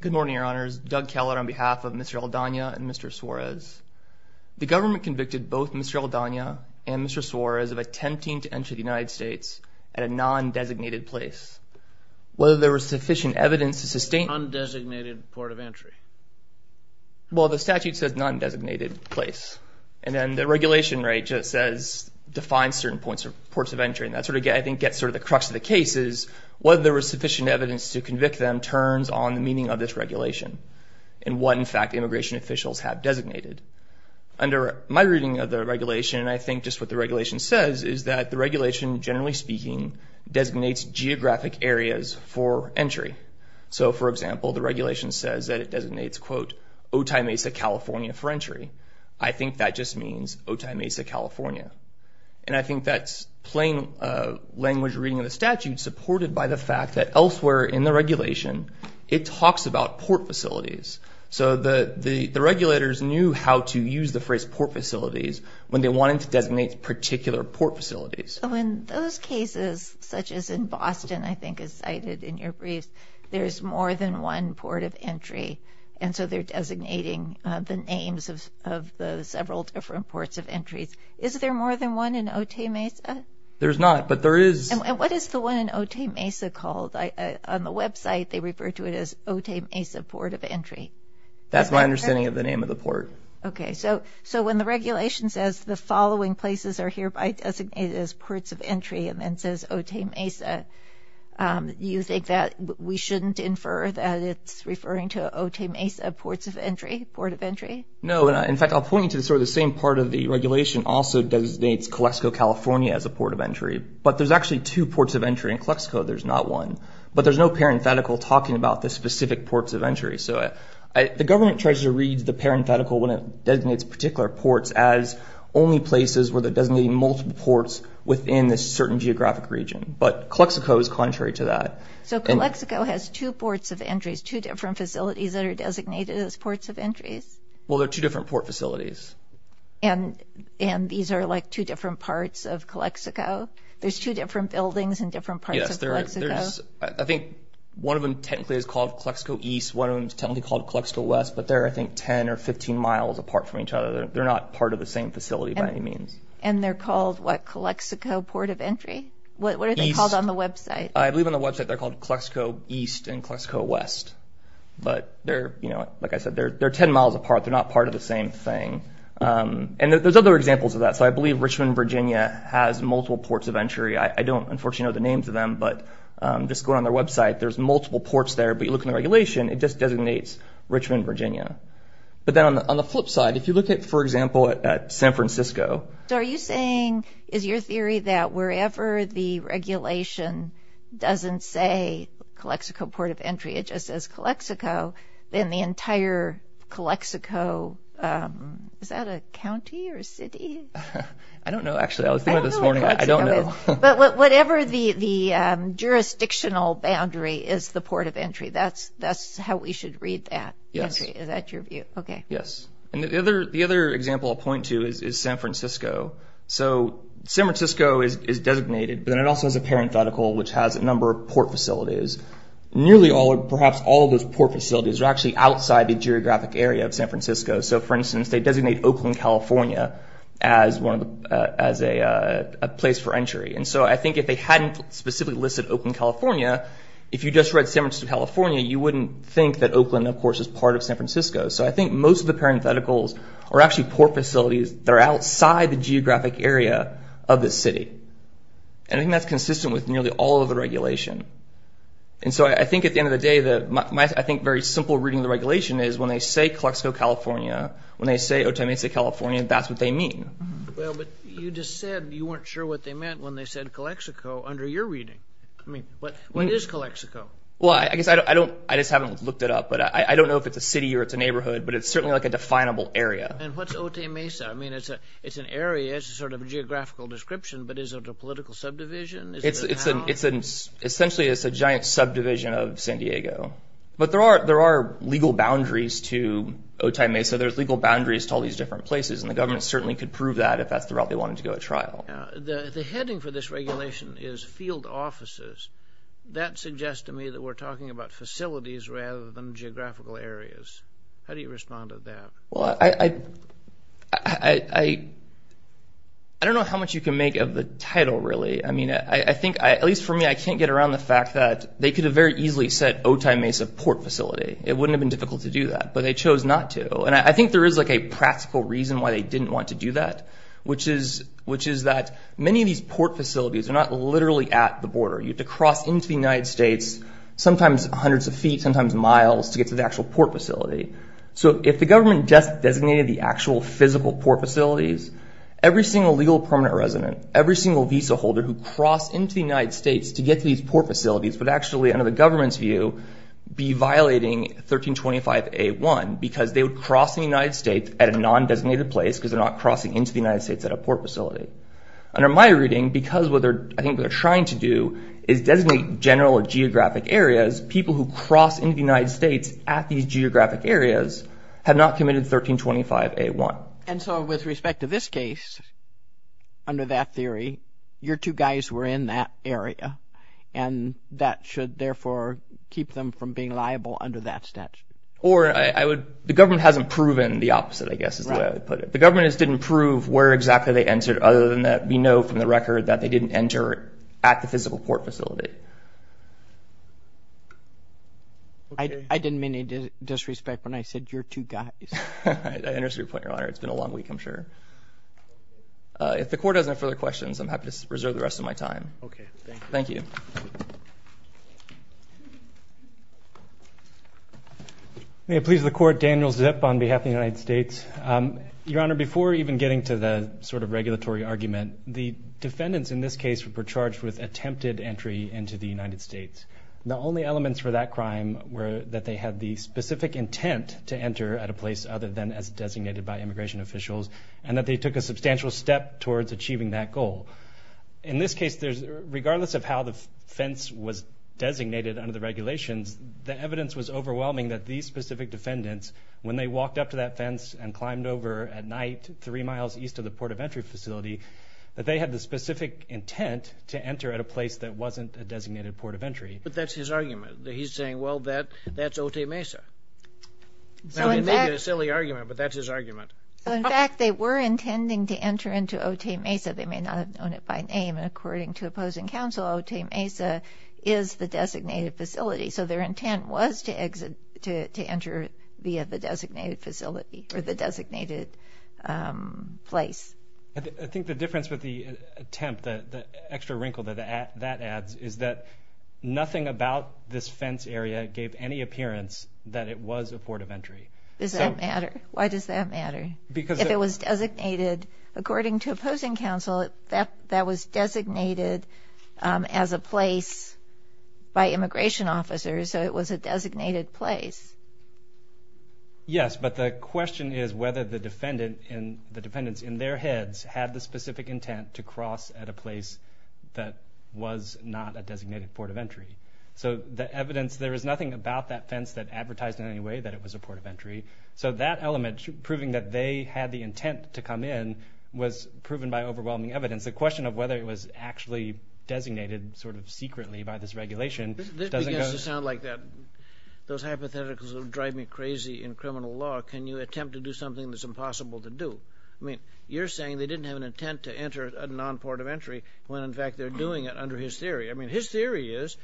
Good morning, your honors. Doug Keller on behalf of Mr. Aldana and Mr. Suarez. The government convicted both Mr. Aldana and Mr. Suarez of attempting to enter the United States at a non-designated place. Whether there was sufficient evidence to sustain... Non-designated port of entry. Well, the statute says non-designated place. And then the regulation, right, just says define certain points or ports of entry. And that sort of, I think, gets sort of the crux of the case is whether there was sufficient evidence to convict them turns on the meaning of this regulation and what, in fact, immigration officials have designated. Under my reading of the regulation, and I think just what the regulation says, is that the regulation, generally speaking, designates geographic areas for entry. So, for example, the regulation says that it designates, quote, Otay Mesa, California, for entry. And I think that's plain language reading of the statute supported by the fact that elsewhere in the regulation, it talks about port facilities. So the regulators knew how to use the phrase port facilities when they wanted to designate particular port facilities. In those cases, such as in Boston, I think is cited in your briefs, there's more than one port of entry. And so they're designating the names of the several different ports of entries. Is there more than one in Otay Mesa? There's not, but there is. And what is the one in Otay Mesa called? On the website, they refer to it as Otay Mesa Port of Entry. That's my understanding of the name of the port. Okay. So when the regulation says the following places are hereby designated as ports of entry and then says Otay Mesa, you think that we shouldn't infer that it's referring to Otay Mesa Ports of Entry, Port of Entry? No. In fact, I'll point you to sort of the same part of the regulation also designates Calexico, California as a port of entry. But there's actually two ports of entry in Calexico. There's not one. But there's no parenthetical talking about the specific ports of entry. So the government tries to read the parenthetical when it designates particular ports as only places where they're designating multiple ports within a certain geographic region. But Calexico is contrary to that. So Calexico has two ports of entries, two different facilities that are designated as ports of entries? Well, they're two different port facilities. And these are like two different parts of Calexico? There's two different buildings in different parts of Calexico? Yes. I think one of them technically is called Calexico East. One of them is technically called Calexico West. But they're, I think, 10 or 15 miles apart from each other. They're not part of the same facility by any means. And they're called, what, Calexico Port of Entry? East. What are they called on the website? I believe on the website they're called Calexico East and Calexico West. But they're, like I said, they're 10 miles apart. They're not part of the same thing. And there's other examples of that. So I believe Richmond, Virginia has multiple ports of entry. I don't, unfortunately, know the names of them. But just going on their website, there's multiple ports there. But you look in the regulation, it just designates Richmond, Virginia. But then on the flip side, if you look at, for example, San Francisco. So are you saying, is your theory that wherever the regulation doesn't say Calexico Port of Entry, it just says Calexico, then the entire Calexico, is that a county or a city? I don't know, actually. I was thinking this morning. I don't know. But whatever the jurisdictional boundary is the port of entry. That's how we should read that. Yes. Is that your view? Okay. Yes. And the other example I'll point to is San Francisco. So San Francisco is designated. But then it also has a parenthetical, which has a number of port facilities. Nearly all or perhaps all of those port facilities are actually outside the geographic area of San Francisco. So, for instance, they designate Oakland, California as a place for entry. And so I think if they hadn't specifically listed Oakland, California, if you just read San Francisco, California, you wouldn't think that Oakland, of course, is part of San Francisco. So I think most of the parentheticals are actually port facilities that are outside the geographic area of the city. And I think that's consistent with nearly all of the regulation. And so I think at the end of the day, I think very simple reading of the regulation is when they say Calexico, California, when they say Otay Mesa, California, that's what they mean. Well, but you just said you weren't sure what they meant when they said Calexico under your reading. I mean, what is Calexico? Well, I guess I just haven't looked it up. But I don't know if it's a city or it's a neighborhood, but it's certainly like a definable area. And what's Otay Mesa? I mean, it's an area. It's sort of a geographical description. But is it a political subdivision? Essentially, it's a giant subdivision of San Diego. But there are legal boundaries to Otay Mesa. There's legal boundaries to all these different places. And the government certainly could prove that if that's the route they wanted to go at trial. The heading for this regulation is field offices. That suggests to me that we're talking about facilities rather than geographical areas. How do you respond to that? Well, I don't know how much you can make of the title, really. I mean, I think, at least for me, I can't get around the fact that they could have very easily said Otay Mesa port facility. It wouldn't have been difficult to do that, but they chose not to. And I think there is like a practical reason why they didn't want to do that, which is that many of these port facilities are not literally at the border. You have to cross into the United States, sometimes hundreds of feet, sometimes miles, to get to the actual port facility. So if the government just designated the actual physical port facilities, every single legal permanent resident, every single visa holder who crossed into the United States to get to these port facilities would actually, under the government's view, be violating 1325A1 because they would cross the United States at a non-designated place because they're not crossing into the United States at a port facility. Under my reading, because what I think they're trying to do is designate general or geographic areas, because people who cross into the United States at these geographic areas have not committed 1325A1. And so with respect to this case, under that theory, your two guys were in that area, and that should therefore keep them from being liable under that statute. Or the government hasn't proven the opposite, I guess is the way I would put it. The government just didn't prove where exactly they entered, other than that we know from the record that they didn't enter at the physical port facility. I didn't mean any disrespect when I said your two guys. I understand your point, Your Honor. It's been a long week, I'm sure. If the Court has no further questions, I'm happy to reserve the rest of my time. Okay, thank you. Thank you. May it please the Court, Daniel Zip on behalf of the United States. Your Honor, before even getting to the sort of regulatory argument, the defendants in this case were charged with attempted entry into the United States. The only elements for that crime were that they had the specific intent to enter at a place other than as designated by immigration officials, and that they took a substantial step towards achieving that goal. In this case, regardless of how the fence was designated under the regulations, the evidence was overwhelming that these specific defendants, when they walked up to that fence and climbed over at night three miles east of the port of entry facility, that they had the specific intent to enter at a place that wasn't a designated port of entry. But that's his argument. He's saying, well, that's Otay Mesa. That may be a silly argument, but that's his argument. In fact, they were intending to enter into Otay Mesa. They may not have known it by name, and according to opposing counsel, Otay Mesa is the designated facility. So their intent was to enter via the designated facility or the designated place. I think the difference with the attempt, the extra wrinkle that that adds, is that nothing about this fence area gave any appearance that it was a port of entry. Does that matter? Why does that matter? If it was designated, according to opposing counsel, that was designated as a place by immigration officers, so it was a designated place. Yes, but the question is whether the defendants, in their heads, had the specific intent to cross at a place that was not a designated port of entry. So the evidence, there is nothing about that fence that advertised in any way that it was a port of entry. So that element, proving that they had the intent to come in, was proven by overwhelming evidence. The question of whether it was actually designated sort of secretly by this regulation doesn't go— This begins to sound like those hypotheticals that drive me crazy in criminal law. Can you attempt to do something that's impossible to do? I mean, you're saying they didn't have an intent to enter a non-port of entry when, in fact, they're doing it under his theory. I mean, his theory is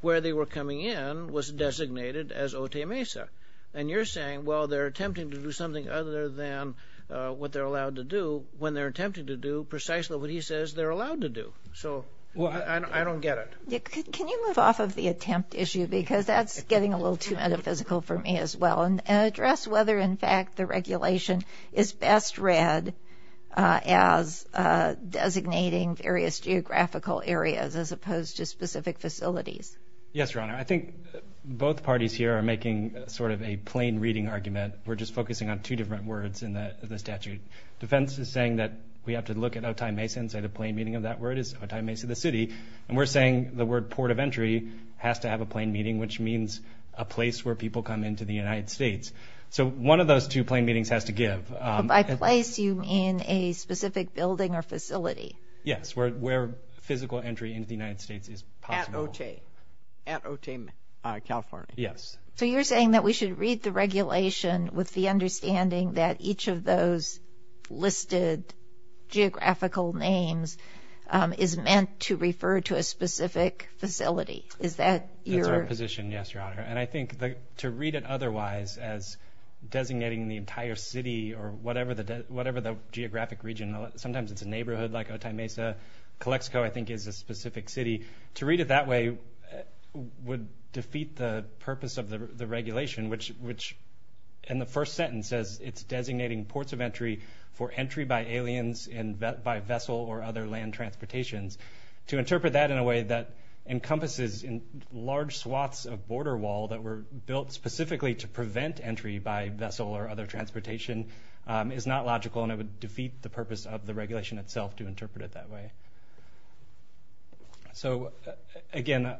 where they were coming in was designated as Otay Mesa. And you're saying, well, they're attempting to do something other than what they're allowed to do when they're attempting to do precisely what he says they're allowed to do. So I don't get it. Can you move off of the attempt issue, because that's getting a little too metaphysical for me as well, and address whether, in fact, the regulation is best read as designating various geographical areas as opposed to specific facilities. Yes, Your Honor. I think both parties here are making sort of a plain reading argument. We're just focusing on two different words in the statute. Defense is saying that we have to look at Otay Mesa and say the plain meaning of that word is Otay Mesa, the city. And we're saying the word port of entry has to have a plain meaning, which means a place where people come into the United States. So one of those two plain meanings has to give. By place, do you mean a specific building or facility? Yes, where physical entry into the United States is possible. At Otay, California. Yes. So you're saying that we should read the regulation with the understanding that each of those listed geographical names is meant to refer to a specific facility. Is that your position? That's our position, yes, Your Honor. And I think to read it otherwise as designating the entire city or whatever the geographic region, sometimes it's a neighborhood like Otay Mesa. Calexico, I think, is a specific city. To read it that way would defeat the purpose of the regulation, which in the first sentence says it's designating ports of entry for entry by aliens and by vessel or other land transportations. To interpret that in a way that encompasses large swaths of border wall that were built specifically to prevent entry by vessel or other transportation is not logical, and it would defeat the purpose of the regulation itself to interpret it that way. So, again,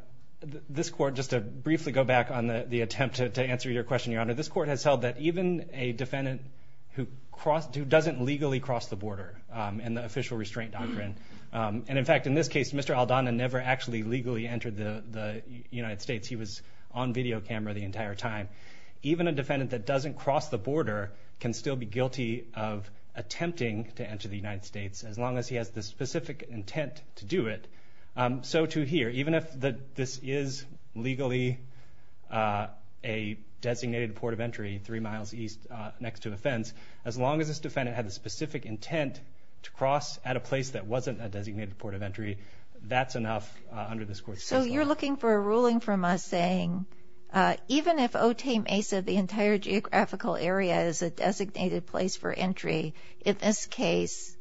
this court, just to briefly go back on the attempt to answer your question, Your Honor, this court has held that even a defendant who doesn't legally cross the border in the official restraint doctrine, and, in fact, in this case, Mr. Aldana never actually legally entered the United States. He was on video camera the entire time. Even a defendant that doesn't cross the border can still be guilty of attempting to enter the United States as long as he has the specific intent to do it. So, to here, even if this is legally a designated port of entry three miles east next to a fence, as long as this defendant had the specific intent to cross at a place that wasn't a designated port of entry, that's enough under this court's system. So you're looking for a ruling from us saying even if Otay Mesa, the entire geographical area, is a designated place for entry, in this case,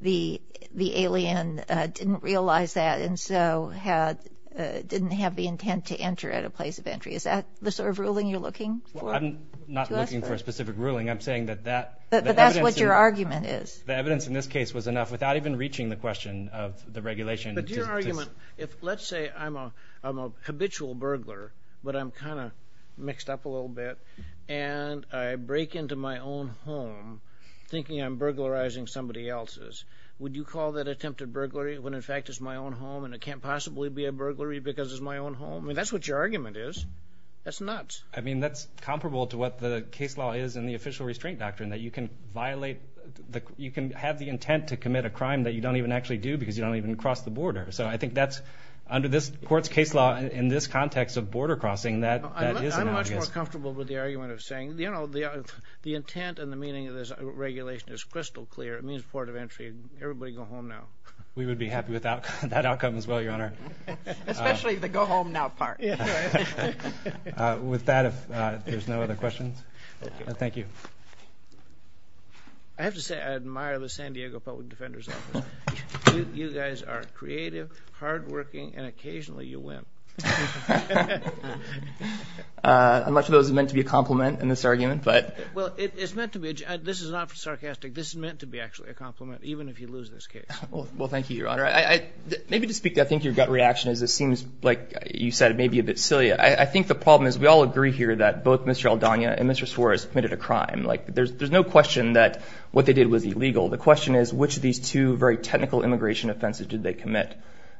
the alien didn't realize that and so didn't have the intent to enter at a place of entry. Is that the sort of ruling you're looking for? Well, I'm not looking for a specific ruling. I'm saying that that evidence in this case was enough without even reaching the question of the regulation. But your argument, let's say I'm a habitual burglar, but I'm kind of mixed up a little bit, and I break into my own home thinking I'm burglarizing somebody else's. Would you call that attempted burglary when, in fact, it's my own home and it can't possibly be a burglary because it's my own home? I mean, that's what your argument is. That's nuts. I mean, that's comparable to what the case law is in the official restraint doctrine, that you can violate, you can have the intent to commit a crime that you don't even actually do because you don't even cross the border. So I think that's, under this court's case law, in this context of border crossing, that is an obvious. I'm much more comfortable with the argument of saying, you know, the intent and the meaning of this regulation is crystal clear. It means port of entry. Everybody go home now. We would be happy with that outcome as well, Your Honor. Especially the go home now part. With that, if there's no other questions. Thank you. I have to say I admire the San Diego Public Defender's Office. You guys are creative, hardworking, and occasionally you win. Much of that was meant to be a compliment in this argument. Well, it's meant to be. This is not sarcastic. This is meant to be actually a compliment, even if you lose this case. Well, thank you, Your Honor. Maybe to speak, I think your gut reaction is it seems like you said it may be a bit silly. I think the problem is we all agree here that both Mr. Aldana and Mr. Suarez committed a crime. Like, there's no question that what they did was illegal. The question is, which of these two very technical immigration offenses did they commit?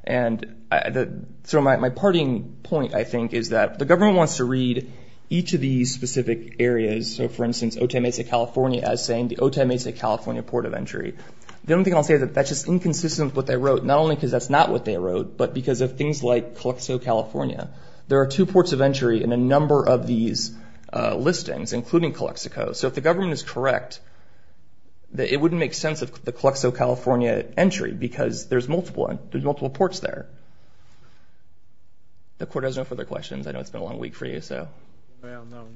My parting point, I think, is that the government wants to read each of these specific areas. So, for instance, Otay Mesa, California as saying the Otay Mesa, California port of entry. The only thing I'll say is that that's just inconsistent with what they wrote. Not only because that's not what they wrote, but because of things like Calexico, California. There are two ports of entry in a number of these listings, including Calexico. So, if the government is correct, it wouldn't make sense of the Calexico, California entry because there's multiple. There's multiple ports there. The court has no further questions. I know it's been a long week for you, so. Well, no.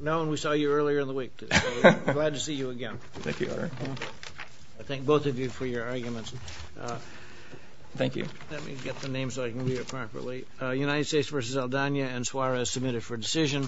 Nolan, we saw you earlier in the week. Glad to see you again. Thank you, Your Honor. I thank both of you for your arguments. Thank you. Let me get the names so I can read it properly. United States v. Aldana and Suarez submitted for decision.